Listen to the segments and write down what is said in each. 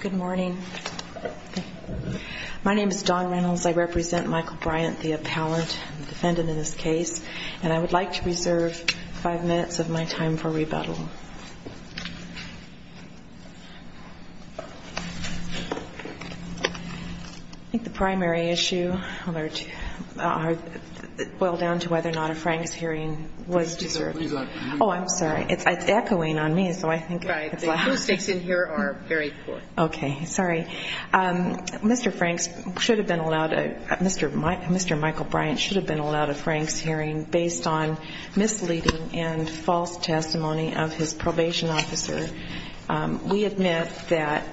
Good morning. My name is Dawn Reynolds. I represent Michael Bryant, the appellant, the defendant in this case. And I would like to reserve five minutes of my time for rebuttal. I think the primary issue boiled down to whether or not a Franks hearing was deserved. Oh, I'm sorry. It's echoing on me, so I think it's loud. Right. The acoustics in here are very poor. Okay. Sorry. Mr. Franks should have been allowed a Mr. Michael Bryant should have been allowed a Franks hearing based on misleading and false testimony of his probation officer. We admit that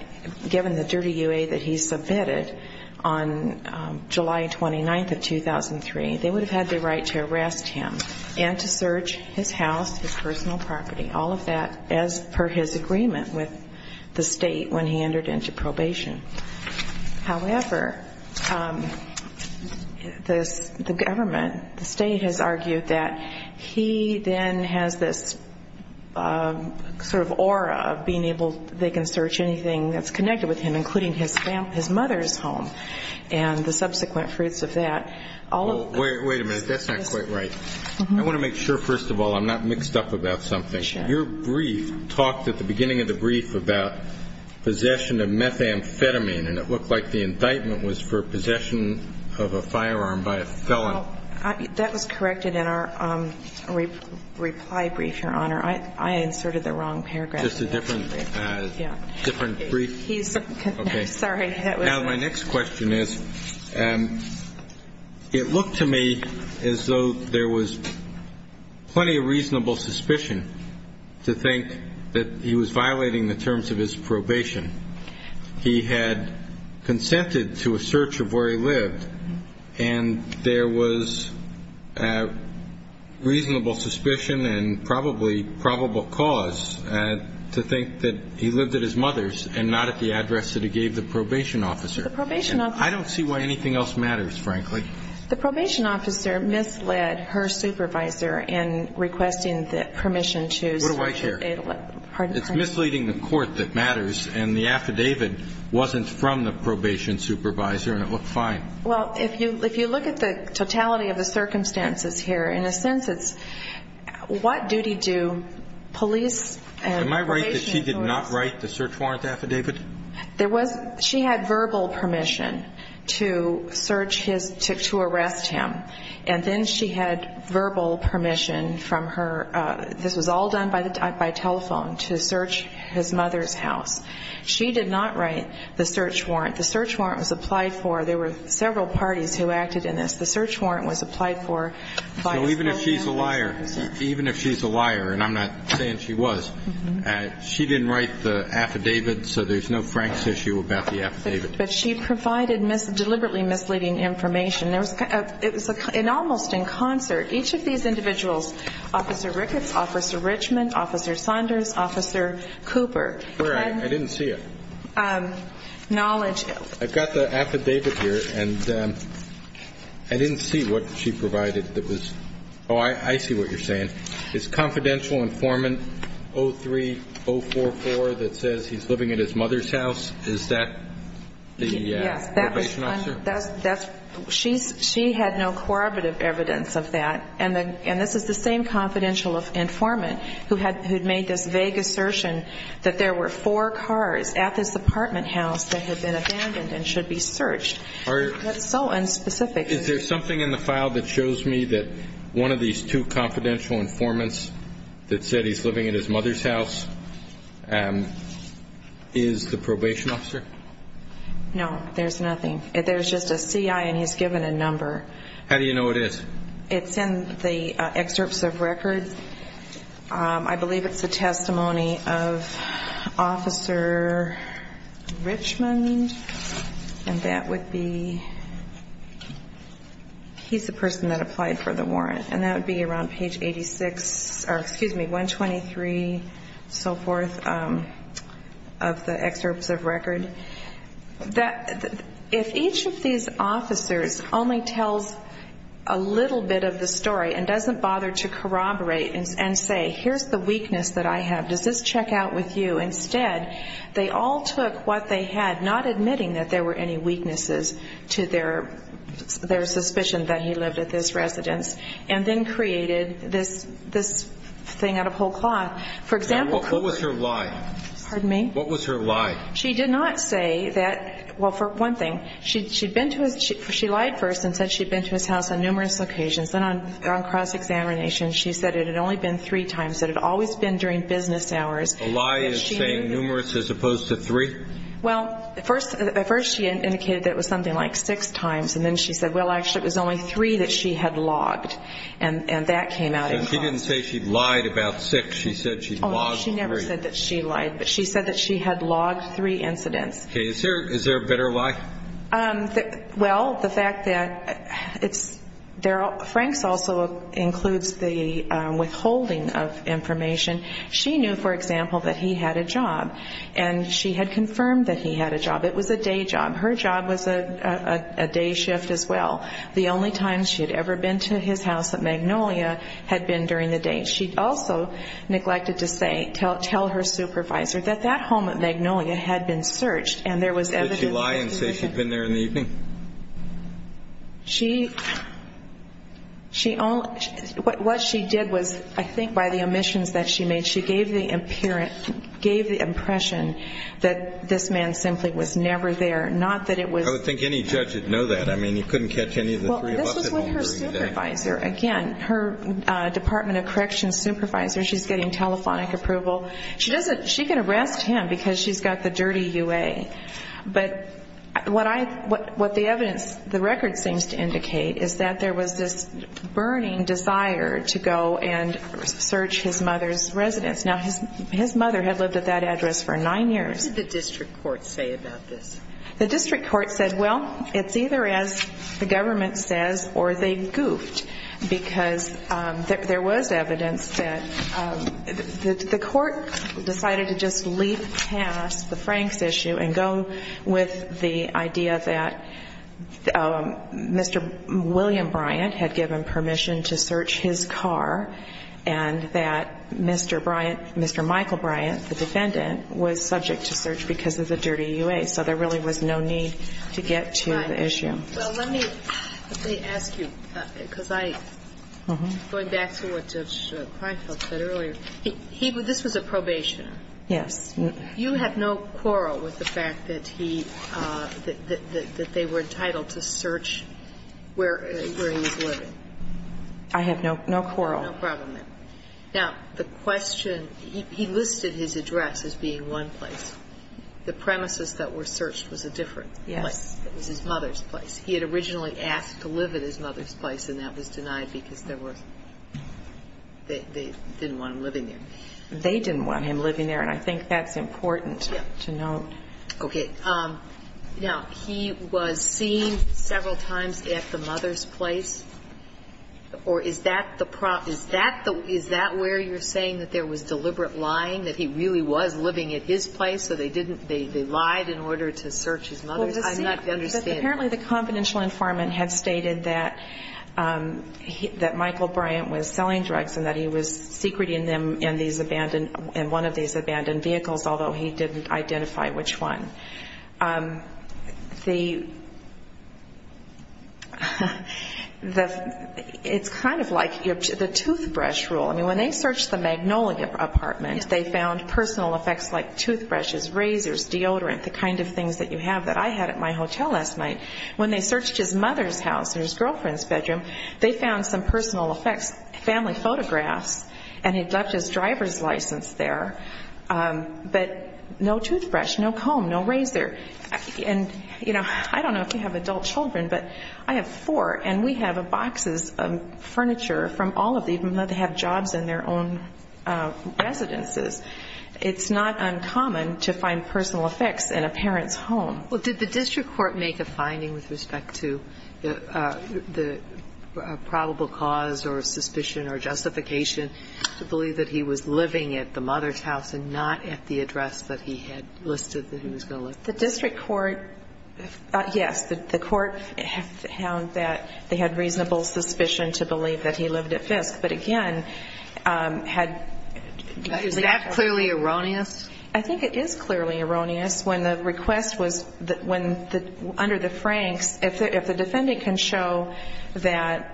given the dirty UA that he submitted on July 29th of 2003, they would have had the right to arrest him and to search his house, his personal property, all of that as per his agreement with the state when he entered into probation. However, the government, the state has argued that he then has this sort of aura of being able, they can search anything that's connected with him, including his mother's home and the subsequent fruits of that. Wait a minute. That's not quite right. I want to make sure, first of all, I'm not mixed up about something. Your brief talked at the beginning of the brief about possession of methamphetamine, and it looked like the indictment was for possession of a firearm by a felon. That was corrected in our reply brief, Your Honor. I inserted the wrong paragraph. Just a different, different brief. Sorry. My next question is, it looked to me as though there was plenty of reasonable suspicion to think that he was violating the terms of his probation. He had consented to a search of where he lived, and there was reasonable suspicion and probably probable cause to think that he lived at his mother's and not at the address that he gave the probation officer. The probation officer. I don't see why anything else matters, frankly. The probation officer misled her supervisor in requesting the permission to search. It's misleading the court that matters, and the affidavit wasn't from the probation supervisor, and it looked fine. Well, if you look at the totality of the circumstances here, in a sense, it's what duty do police and probation authorities? Am I right that she did not write the search warrant affidavit? She had verbal permission to search his, to arrest him, and then she had verbal permission from her, this was all done by telephone, to search his mother's house. She did not write the search warrant. The search warrant was applied for. There were several parties who acted in this. The search warrant was applied for. So even if she's a liar, even if she's a liar, and I'm not saying she was, she didn't write the affidavit, so there's no Frank's issue about the affidavit. But she provided deliberately misleading information. It was almost in concert. Each of these individuals, Officer Ricketts, Officer Richmond, Officer Saunders, Officer Cooper. I didn't see it. Knowledge. I've got the affidavit here, and I didn't see what she provided that was, oh, I see what you're saying. Is confidential informant 03-044 that says he's living at his mother's house, is that the probation officer? Yes. She had no corroborative evidence of that. And this is the same confidential informant who had made this vague assertion that there were four cars at this apartment house that had been abandoned and should be searched. That's so unspecific. Is there something in the file that shows me that one of these two confidential informants that said he's living at his mother's house is the probation officer? No, there's nothing. There's just a CI, and he's given a number. How do you know what it is? It's in the excerpts of records. I believe it's a testimony of Officer Richmond, and that would be, he's the person that applied for the warrant. And that would be around page 86, or excuse me, 123, so forth, of the excerpts of record. If each of these officers only tells a little bit of the story and doesn't bother to corroborate and say, here's the weakness that I have, does this check out with you? Instead, they all took what they had, not admitting that there were any weaknesses to their suspicion that he lived at this residence, and then created this thing out of whole cloth. Now, what was her lie? Pardon me? What was her lie? She did not say that, well, for one thing, she lied first and said she'd been to his house on numerous occasions. Then on cross-examination, she said it had only been three times, that it had always been during business hours. A lie is saying numerous as opposed to three? Well, at first she indicated that it was something like six times, and then she said, well, actually, it was only three that she had logged, and that came out as false. So she didn't say she lied about six. She said she'd logged three. Oh, no, she never said that she lied, but she said that she had logged three incidents. Okay. Is there a better lie? Well, the fact that it's – Frank's also includes the withholding of information. She knew, for example, that he had a job, and she had confirmed that he had a job. It was a day job. Her job was a day shift as well. The only time she had ever been to his house at Magnolia had been during the day. She also neglected to say – tell her supervisor that that home at Magnolia had been searched, and there was evidence that – Did she lie and say she'd been there in the evening? She – what she did was, I think by the omissions that she made, she gave the impression that this man simply was never there, not that it was – I would think any judge would know that. I mean, you couldn't catch any of the three of us at home during the day. Well, this was with her supervisor. Again, her Department of Corrections supervisor, she's getting telephonic approval. She doesn't – she can arrest him because she's got the dirty UA. But what I – what the evidence, the record seems to indicate, is that there was this burning desire to go and search his mother's residence. Now, his mother had lived at that address for nine years. What did the district court say about this? The district court said, well, it's either, as the government says, or they goofed. Because there was evidence that – the court decided to just leap past the Franks issue and go with the idea that Mr. William Bryant had given permission to search his car and that Mr. Bryant – Mr. Michael Bryant, the defendant, was subject to search because of the dirty UA. So there really was no need to get to the issue. Right. Well, let me – let me ask you, because I – going back to what Judge Reinfeld said earlier. He – this was a probationer. Yes. You have no quarrel with the fact that he – that they were entitled to search where he was living? I have no quarrel. No problem there. Okay. Now, the question – he listed his address as being one place. The premises that were searched was a different place. Yes. It was his mother's place. He had originally asked to live at his mother's place, and that was denied because there was – they didn't want him living there. They didn't want him living there, and I think that's important to note. Okay. Now, he was seen several times at the mother's place, or is that the – is that the – is that where you're saying that there was deliberate lying, that he really was living at his place so they didn't – they lied in order to search his mother's? I'm not understanding. Apparently, the confidential informant had stated that Michael Bryant was selling drugs and that he was secreting them in these abandoned – in one of these abandoned vehicles, although he didn't identify which one. The – it's kind of like the toothbrush rule. I mean, when they searched the Magnolia apartment, they found personal effects like toothbrushes, razors, deodorant, the kind of things that you have that I had at my hotel last night. When they searched his mother's house or his girlfriend's bedroom, they found some personal effects, family photographs, and he left his driver's license there, but no toothbrush, no comb, no razor. And, you know, I don't know if you have adult children, but I have four, and we have boxes of furniture from all of these, even though they have jobs in their own residences. It's not uncommon to find personal effects in a parent's home. Well, did the district court make a finding with respect to the probable cause or suspicion or justification to believe that he was living at the mother's house and not at the address that he had listed that he was going to live there? The district court – yes, the court found that they had reasonable suspicion to believe that he lived at Fisk, but, again, had – Is that clearly erroneous? I think it is clearly erroneous. When the request was – under the Franks, if the defendant can show that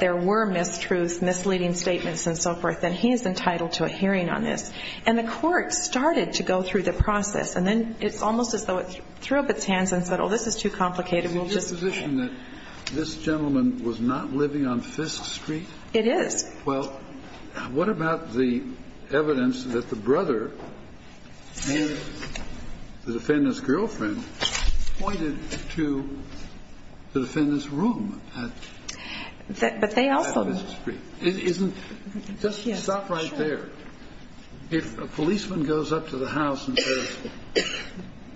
there were mistruths, misleading statements, and so forth, then he is entitled to a hearing on this. And the court started to go through the process, and then it's almost as though it threw up its hands and said, oh, this is too complicated. We'll just – Is it your position that this gentleman was not living on Fisk Street? It is. Well, what about the evidence that the brother and the defendant's girlfriend pointed to the defendant's room at Fisk Street? But they also – Just stop right there. If a policeman goes up to the house and says,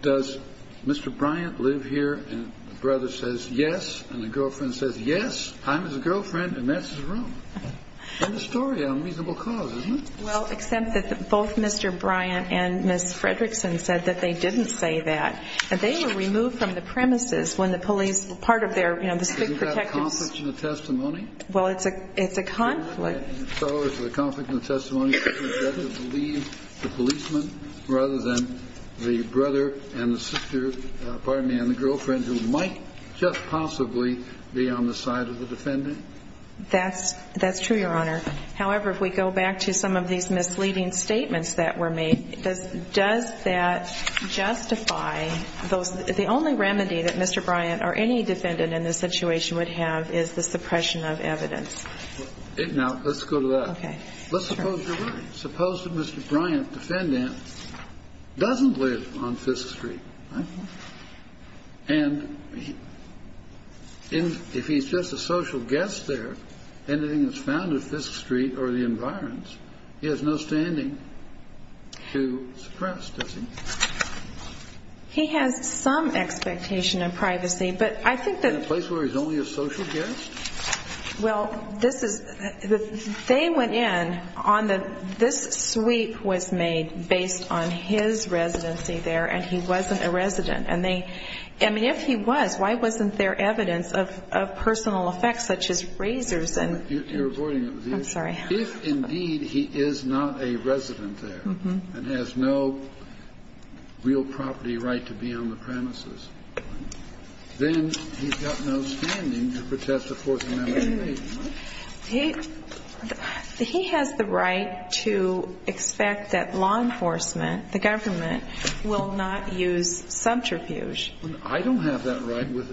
does Mr. Bryant live here? And the brother says, yes. And the girlfriend says, yes, I'm his girlfriend, and that's his room. It's a story on reasonable cause, isn't it? Well, except that both Mr. Bryant and Ms. Fredrickson said that they didn't say that. They were removed from the premises when the police – part of their, you know, the state protectors – Isn't that a conflict in the testimony? Well, it's a conflict. So is the conflict in the testimony that you'd rather believe the policeman rather than the brother and the sister – pardon me – and the girlfriend who might just possibly be on the side of the defendant? That's true, Your Honor. However, if we go back to some of these misleading statements that were made, does that justify those – the only remedy that Mr. Bryant or any defendant in this situation would have is the suppression of evidence. Now, let's go to that. Let's suppose you're right. Suppose that Mr. Bryant, defendant, doesn't live on Fisk Street. And if he's just a social guest there, anything that's found at Fisk Street or the environs, he has no standing to suppress, does he? He has some expectation of privacy, but I think that – In a place where he's only a social guest? Well, this is – they went in on the – This sweep was made based on his residency there, and he wasn't a resident. And they – I mean, if he was, why wasn't there evidence of personal effects such as razors and – You're avoiding the issue. I'm sorry. If, indeed, he is not a resident there and has no real property right to be on the premises, then he's got no standing to protest the Fourth Amendment. He has the right to expect that law enforcement, the government, will not use subterfuge. I don't have that right with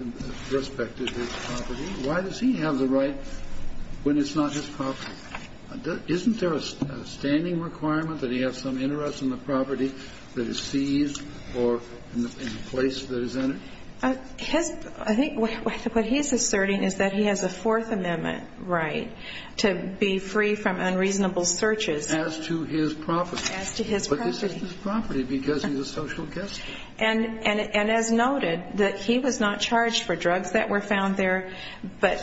respect to his property. Why does he have the right when it's not his property? Isn't there a standing requirement that he have some interest in the property that is seized or in the place that is entered? His – I think what he's asserting is that he has a Fourth Amendment right to be free from unreasonable searches. As to his property. As to his property. But this isn't his property because he's a social guest. And as noted, that he was not charged for drugs that were found there, but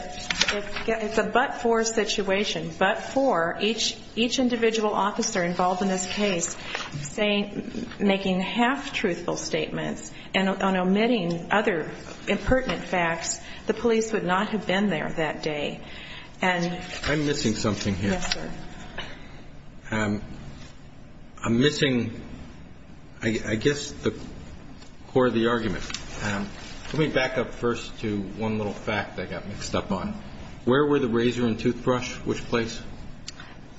it's a but-for situation. But-for, each individual officer involved in this case saying – In other words, they would have to be put on the premises and on omitting other impertinent facts, the police would not have been there that day. And – I'm missing something here. Yes, sir. I'm missing, I guess, the core of the argument. Let me back up first to one little fact that got mixed up on it. Where were the razor and toothbrush, which place?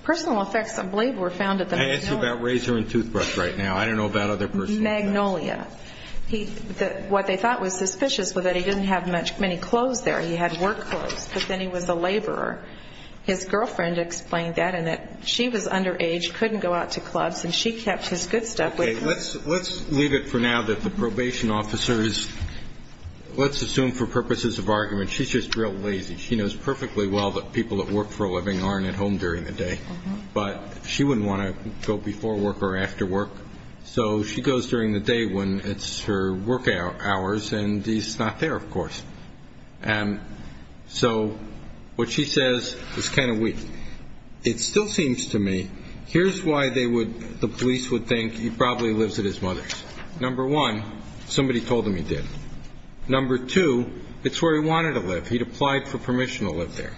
Personal effects, I believe, were found at the Magnolia. I asked you about razor and toothbrush right now. I don't know about other personal effects. Magnolia. What they thought was suspicious was that he didn't have many clothes there. He had work clothes, but then he was a laborer. His girlfriend explained that and that she was underage, couldn't go out to clubs, and she kept his good stuff with her. Okay, let's leave it for now that the probation officer is – let's assume for purposes of argument, she's just real lazy. She knows perfectly well that people that work for a living aren't at home during the day. But she wouldn't want to go before work or after work, so she goes during the day when it's her work hours and he's not there, of course. And so what she says is kind of weak. It still seems to me here's why they would – the police would think he probably lives at his mother's. Number one, somebody told him he did. Number two, it's where he wanted to live. He'd applied for permission to live there.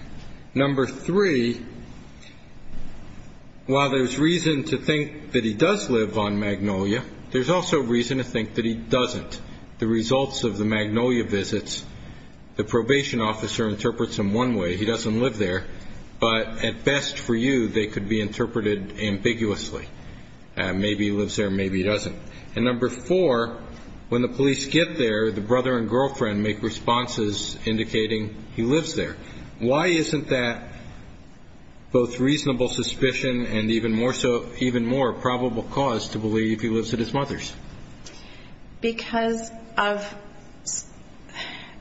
Number three, while there's reason to think that he does live on Magnolia, there's also reason to think that he doesn't. The results of the Magnolia visits, the probation officer interprets them one way, he doesn't live there, but at best for you, they could be interpreted ambiguously. Maybe he lives there, maybe he doesn't. And number four, when the police get there, the brother and girlfriend make responses indicating he lives there. Why isn't that both reasonable suspicion and even more probable cause to believe he lives at his mother's? Because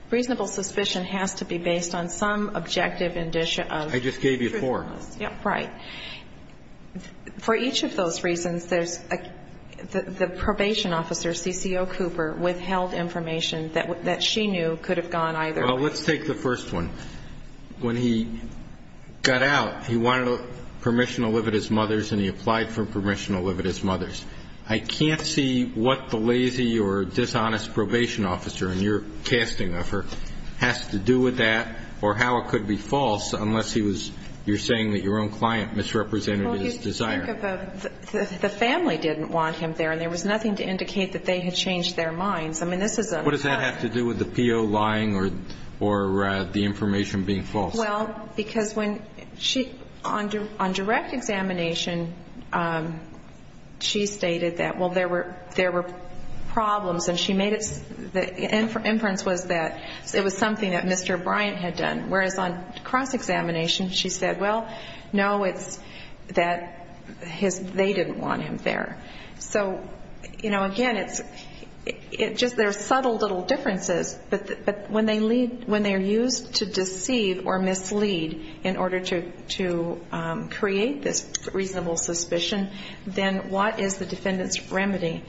reasonable suspicion has to be based on some objective indicia of truthfulness. I just gave you four. Right. For each of those reasons, the probation officer, CCO Cooper, withheld information that she knew could have gone either way. Well, let's take the first one. When he got out, he wanted permission to live at his mother's and he applied for permission to live at his mother's. I can't see what the lazy or dishonest probation officer in your casting of her has to do with that or how it could be false unless you're saying that your own client misrepresented his desire. Well, you think of the family didn't want him there and there was nothing to indicate that they had changed their minds. I mean, this is a lie. What does that have to do with the P.O. lying or the information being false? Well, because on direct examination, she stated that, well, there were problems and the inference was that it was something that Mr. Bryant had done, whereas on cross-examination, she said, well, no, it's that they didn't want him there. So, you know, again, it's just there are subtle little differences, but when they're used to deceive or mislead in order to create this reasonable suspicion, then what is the defendant's remedy?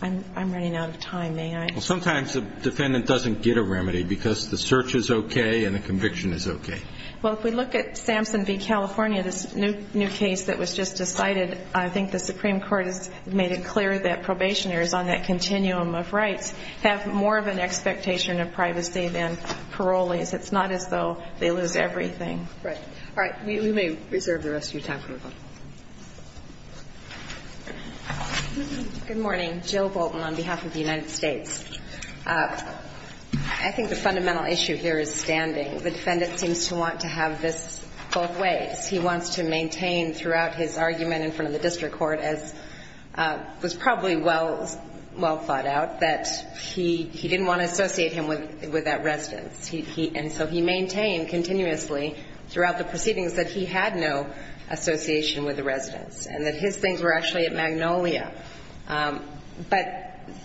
I'm running out of time. May I? Well, sometimes the defendant doesn't get a remedy because the search is okay and the conviction is okay. Well, if we look at Sampson v. California, this new case that was just decided, I think the Supreme Court has made it clear that probationers on that continuum of rights have more of an expectation of privacy than parolees. It's not as though they lose everything. Right. All right. We may reserve the rest of your time for rebuttal. Good morning. Jill Bolton on behalf of the United States. I think the fundamental issue here is standing. The defendant seems to want to have this both ways. He wants to maintain throughout his argument in front of the district court, as was probably well thought out, that he didn't want to associate him with that residence. And so he maintained continuously throughout the proceedings that he had no association with the residence and that his things were actually at Magnolia. But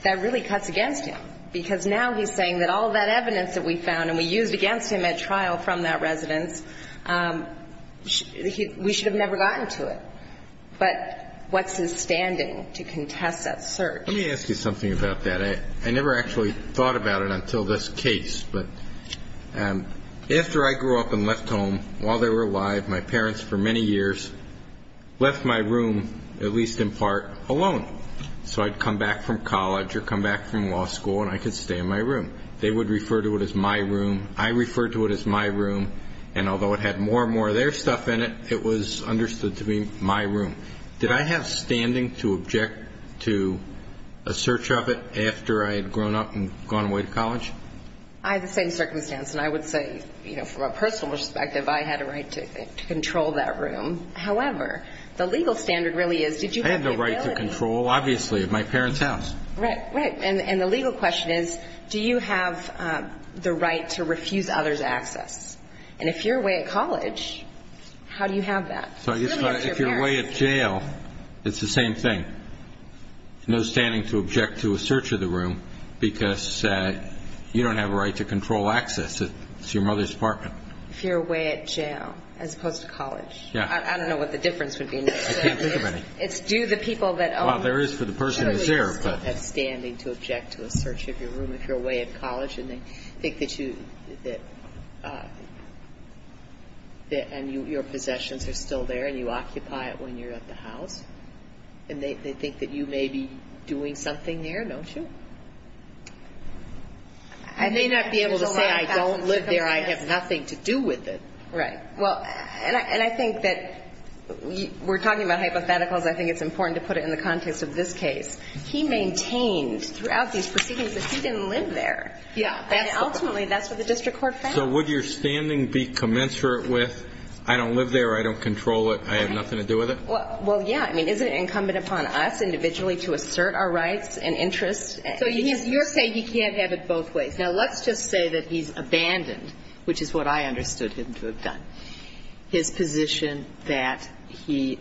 that really cuts against him because now he's saying that all that evidence that we found and we used against him at trial from that residence, we should have never gotten to it. But what's his standing to contest that search? Let me ask you something about that. I never actually thought about it until this case. But after I grew up and left home, while they were alive, my parents for many years left my room, at least in part, alone. So I'd come back from college or come back from law school and I could stay in my room. They would refer to it as my room. I referred to it as my room. And although it had more and more of their stuff in it, it was understood to be my room. Did I have standing to object to a search of it after I had grown up and gone away to college? I had the same circumstance. And I would say, you know, from a personal perspective, I had a right to control that room. However, the legal standard really is did you have the ability? I had the right to control, obviously, my parents' house. Right, right. And the legal question is do you have the right to refuse others' access? And if you're away at college, how do you have that? So I guess if you're away at jail, it's the same thing. No standing to object to a search of the room because you don't have a right to control access. It's your mother's apartment. If you're away at jail as opposed to college. Yeah. I don't know what the difference would be. I can't think of any. It's do the people that own it. Well, there is for the person who's there. I mean, you don't have standing to object to a search of your room if you're away at college and they think that you and your possessions are still there and you occupy it when you're at the house. And they think that you may be doing something there, don't you? You may not be able to say I don't live there. I have nothing to do with it. Right. Well, and I think that we're talking about hypotheticals. I think it's important to put it in the context of this case. He maintained throughout these proceedings that he didn't live there. Yeah. And ultimately, that's what the district court found. So would your standing be commensurate with I don't live there, I don't control it, I have nothing to do with it? Well, yeah. I mean, isn't it incumbent upon us individually to assert our rights and interests? So you're saying he can't have it both ways. Now, let's just say that he's abandoned, which is what I understood him to have done. His position that he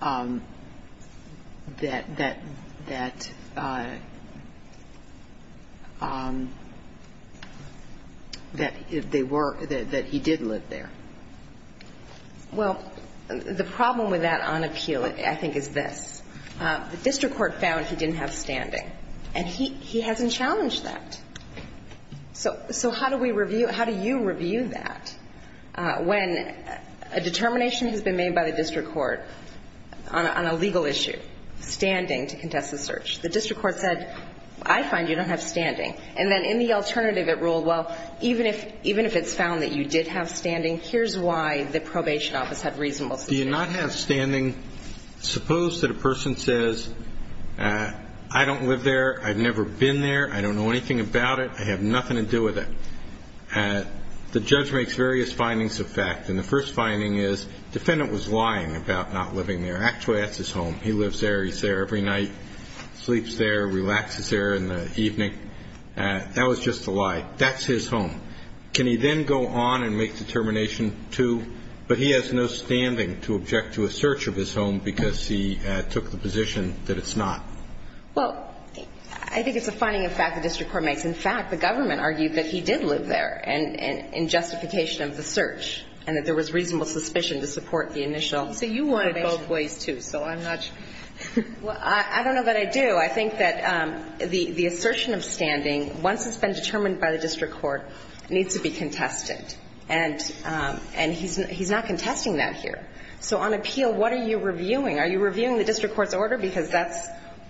did live there. Well, the problem with that on appeal, I think, is this. The district court found he didn't have standing. And he hasn't challenged that. So how do we review? How do you review that? When a determination has been made by the district court on a legal issue, standing to contest the search, the district court said, I find you don't have standing. And then in the alternative, it ruled, well, even if it's found that you did have standing, here's why the probation office had reasonable suspicion. Do you not have standing? Suppose that a person says, I don't live there. I've never been there. I don't know anything about it. I have nothing to do with it. The judge makes various findings of fact. And the first finding is the defendant was lying about not living there. Actually, that's his home. He lives there. He's there every night, sleeps there, relaxes there in the evening. That was just a lie. That's his home. Can he then go on and make determination two, but he has no standing to object to a search of his home because he took the position that it's not? Well, I think it's a finding of fact the district court makes. In fact, the government argued that he did live there in justification of the search and that there was reasonable suspicion to support the initial probation. So you wanted both ways, too, so I'm not sure. Well, I don't know that I do. So I think that the assertion of standing, once it's been determined by the district court, needs to be contested. And he's not contesting that here. So on appeal, what are you reviewing? Are you reviewing the district court's order? Because that's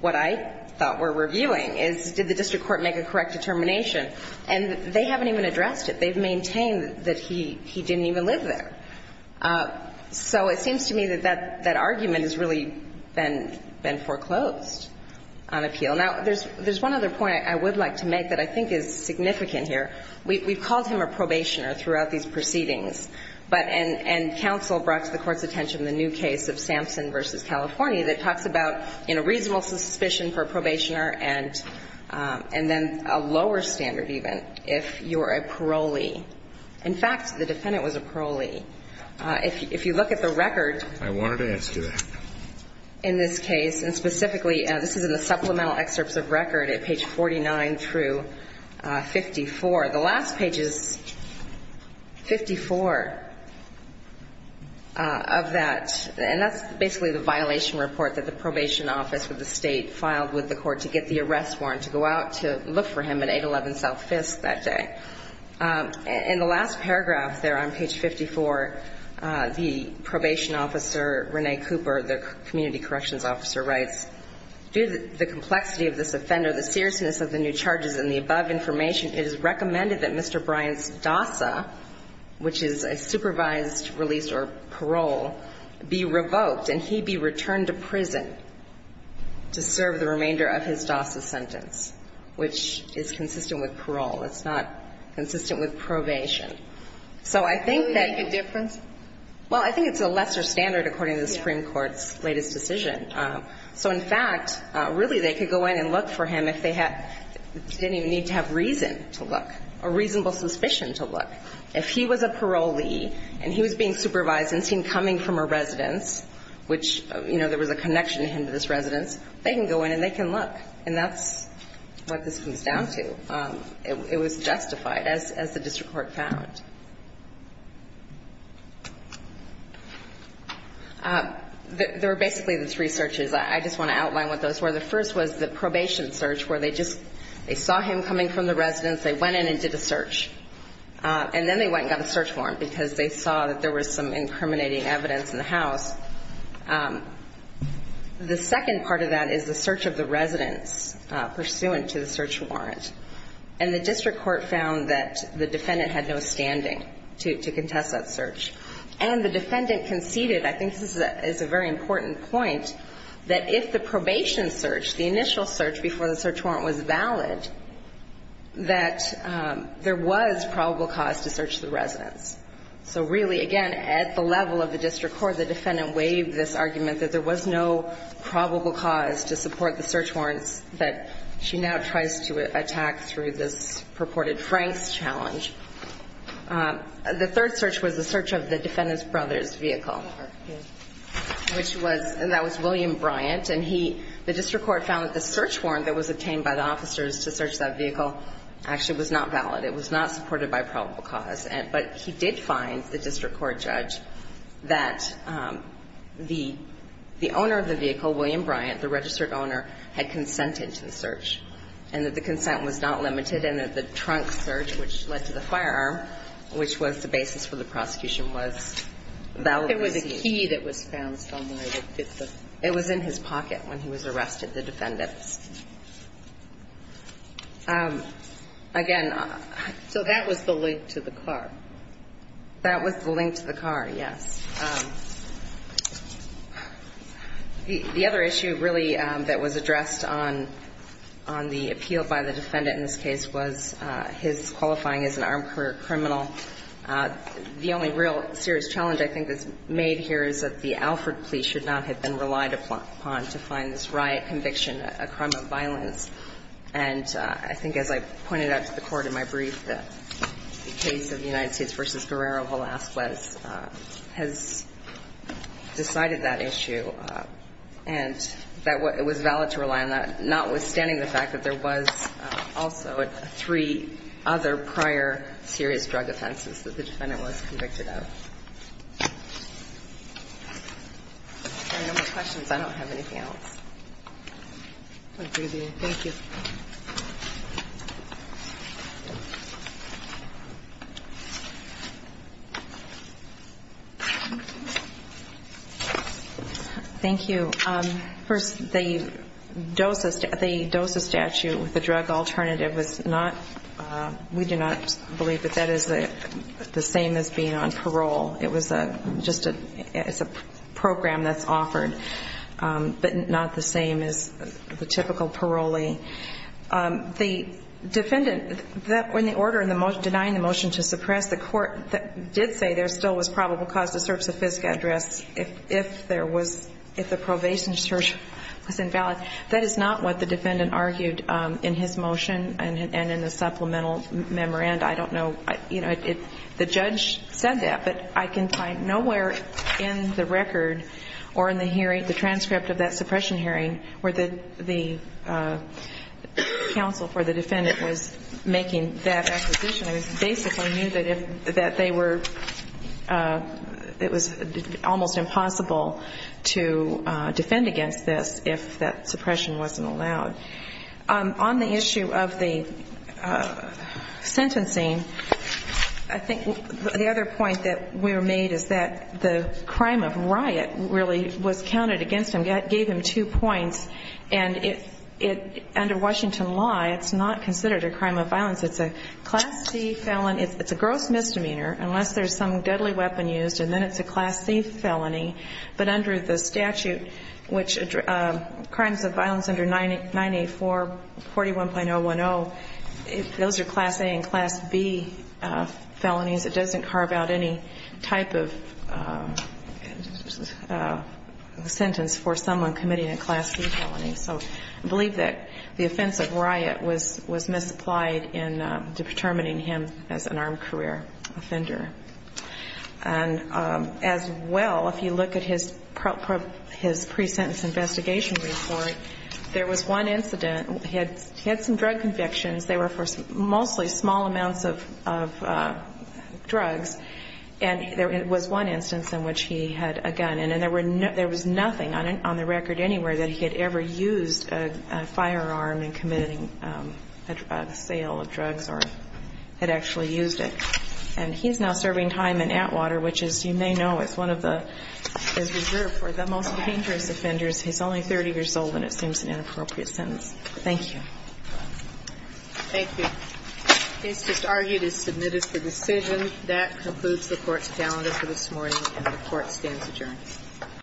what I thought we're reviewing is did the district court make a correct determination. And they haven't even addressed it. They've maintained that he didn't even live there. So it seems to me that that argument has really been foreclosed on appeal. Now, there's one other point I would like to make that I think is significant here. We've called him a probationer throughout these proceedings, but and counsel brought to the Court's attention the new case of Sampson v. California that talks about, you know, reasonable suspicion for a probationer and then a lower standard even if you're a parolee. In fact, the defendant was a parolee. If you look at the record. I wanted to ask you that. In this case, and specifically, this is in the supplemental excerpts of record at page 49 through 54. The last page is 54 of that. And that's basically the violation report that the probation office of the state filed with the court to get the arrest warrant to go out to look for him at 811 South 5th that day. In the last paragraph there on page 54, the probation officer, Rene Cooper, the community corrections officer, writes, due to the complexity of this offender, the seriousness of the new charges and the above information, it is recommended that Mr. Bryant's DASA, which is a supervised release or parole, be revoked and he be returned to prison to serve the remainder of his DASA sentence, which is consistent with parole. It's not consistent with probation. So I think that you Can you make a difference? Well, I think it's a lesser standard according to the Supreme Court's latest decision. So in fact, really they could go in and look for him if they didn't even need to have reason to look, a reasonable suspicion to look. If he was a parolee and he was being supervised and seen coming from a residence, which, you know, there was a connection to him to this residence, they can go in and they can look. And that's what this comes down to. It was justified, as the district court found. There were basically three searches. I just want to outline what those were. The first was the probation search, where they just, they saw him coming from the residence, they went in and did a search. And then they went and got a search warrant, because they saw that there was some incriminating evidence in the house. The second part of that is the search of the residence, pursuant to the search warrant. And the district court found that the defendant had no standing to contest that search. And the defendant conceded, I think this is a very important point, that if the probation search, the initial search before the search warrant was valid, that there was probable cause to search the residence. So really, again, at the level of the district court, the defendant waived this argument that there was no probable cause to support the search warrants that she now tries to attack through this purported Franks challenge. The third search was the search of the defendant's brother's vehicle, which was, and that was William Bryant. And he, the district court found that the search warrant that was obtained by the officers to search that vehicle actually was not valid. It was not supported by probable cause. But he did find, the district court judge, that the owner of the vehicle, William Bryant, the registered owner, had consented to the search, and that the consent was not limited, and that the trunk search, which led to the firearm, which was the basis for the prosecution, was valid. It was a key that was found somewhere. It was in his pocket when he was arrested, the defendant's. Again, so that was the link to the car. That was the link to the car, yes. The other issue, really, that was addressed on the appeal by the defendant in this case was his qualifying as an armed career criminal. The only real serious challenge I think that's made here is that the Alford police should not have been relied upon to find this riot conviction a crime of violence. And I think, as I pointed out to the Court in my brief, that the case of the United States v. Guerrero-Velasquez has decided that issue, and that it was valid to rely on that, notwithstanding the fact that there was also three other prior serious drug offenses that the defendant was convicted of. If there are no more questions, I don't have anything else. Thank you. Thank you. First, the DOSA statute with the drug alternative was not, we do not believe that that is the same as being on parole. It was just a program that's offered, but not the same as the typical parolee. The defendant, when the order in the motion denying the motion to suppress, the court did say there still was probable cause to search the FSCA address if there was, if the probation search was invalid. That is not what the defendant argued in his motion and in the supplemental memorandum. And I don't know, you know, the judge said that, but I can find nowhere in the record or in the hearing, the transcript of that suppression hearing where the counsel for the defendant was making that acquisition. I basically knew that they were, it was almost impossible to defend against this if that suppression wasn't allowed. On the issue of the sentencing, I think the other point that we were made is that the crime of riot really was counted against him, gave him two points. And it, under Washington law, it's not considered a crime of violence. It's a Class C felon, it's a gross misdemeanor unless there's some deadly weapon used, and then it's a Class C felony. But under the statute, which crimes of violence under 984, 41.010, those are Class A and Class B felonies. It doesn't carve out any type of sentence for someone committing a Class C felony. So I believe that the offense of riot was misapplied in determining him as an armed career offender. And as well, if you look at his pre-sentence investigation report, there was one incident. He had some drug convictions. They were for mostly small amounts of drugs. And there was one instance in which he had a gun. And there was nothing on the record anywhere that he had ever used a firearm in committing a sale of drugs or had actually used it. And he's now serving time in Atwater, which, as you may know, is one of the reserved for the most dangerous offenders. He's only 30 years old, and it seems an inappropriate sentence. Thank you. Thank you. Case disargued is submitted for decision. That concludes the Court's calendar for this morning, and the Court stands adjourned.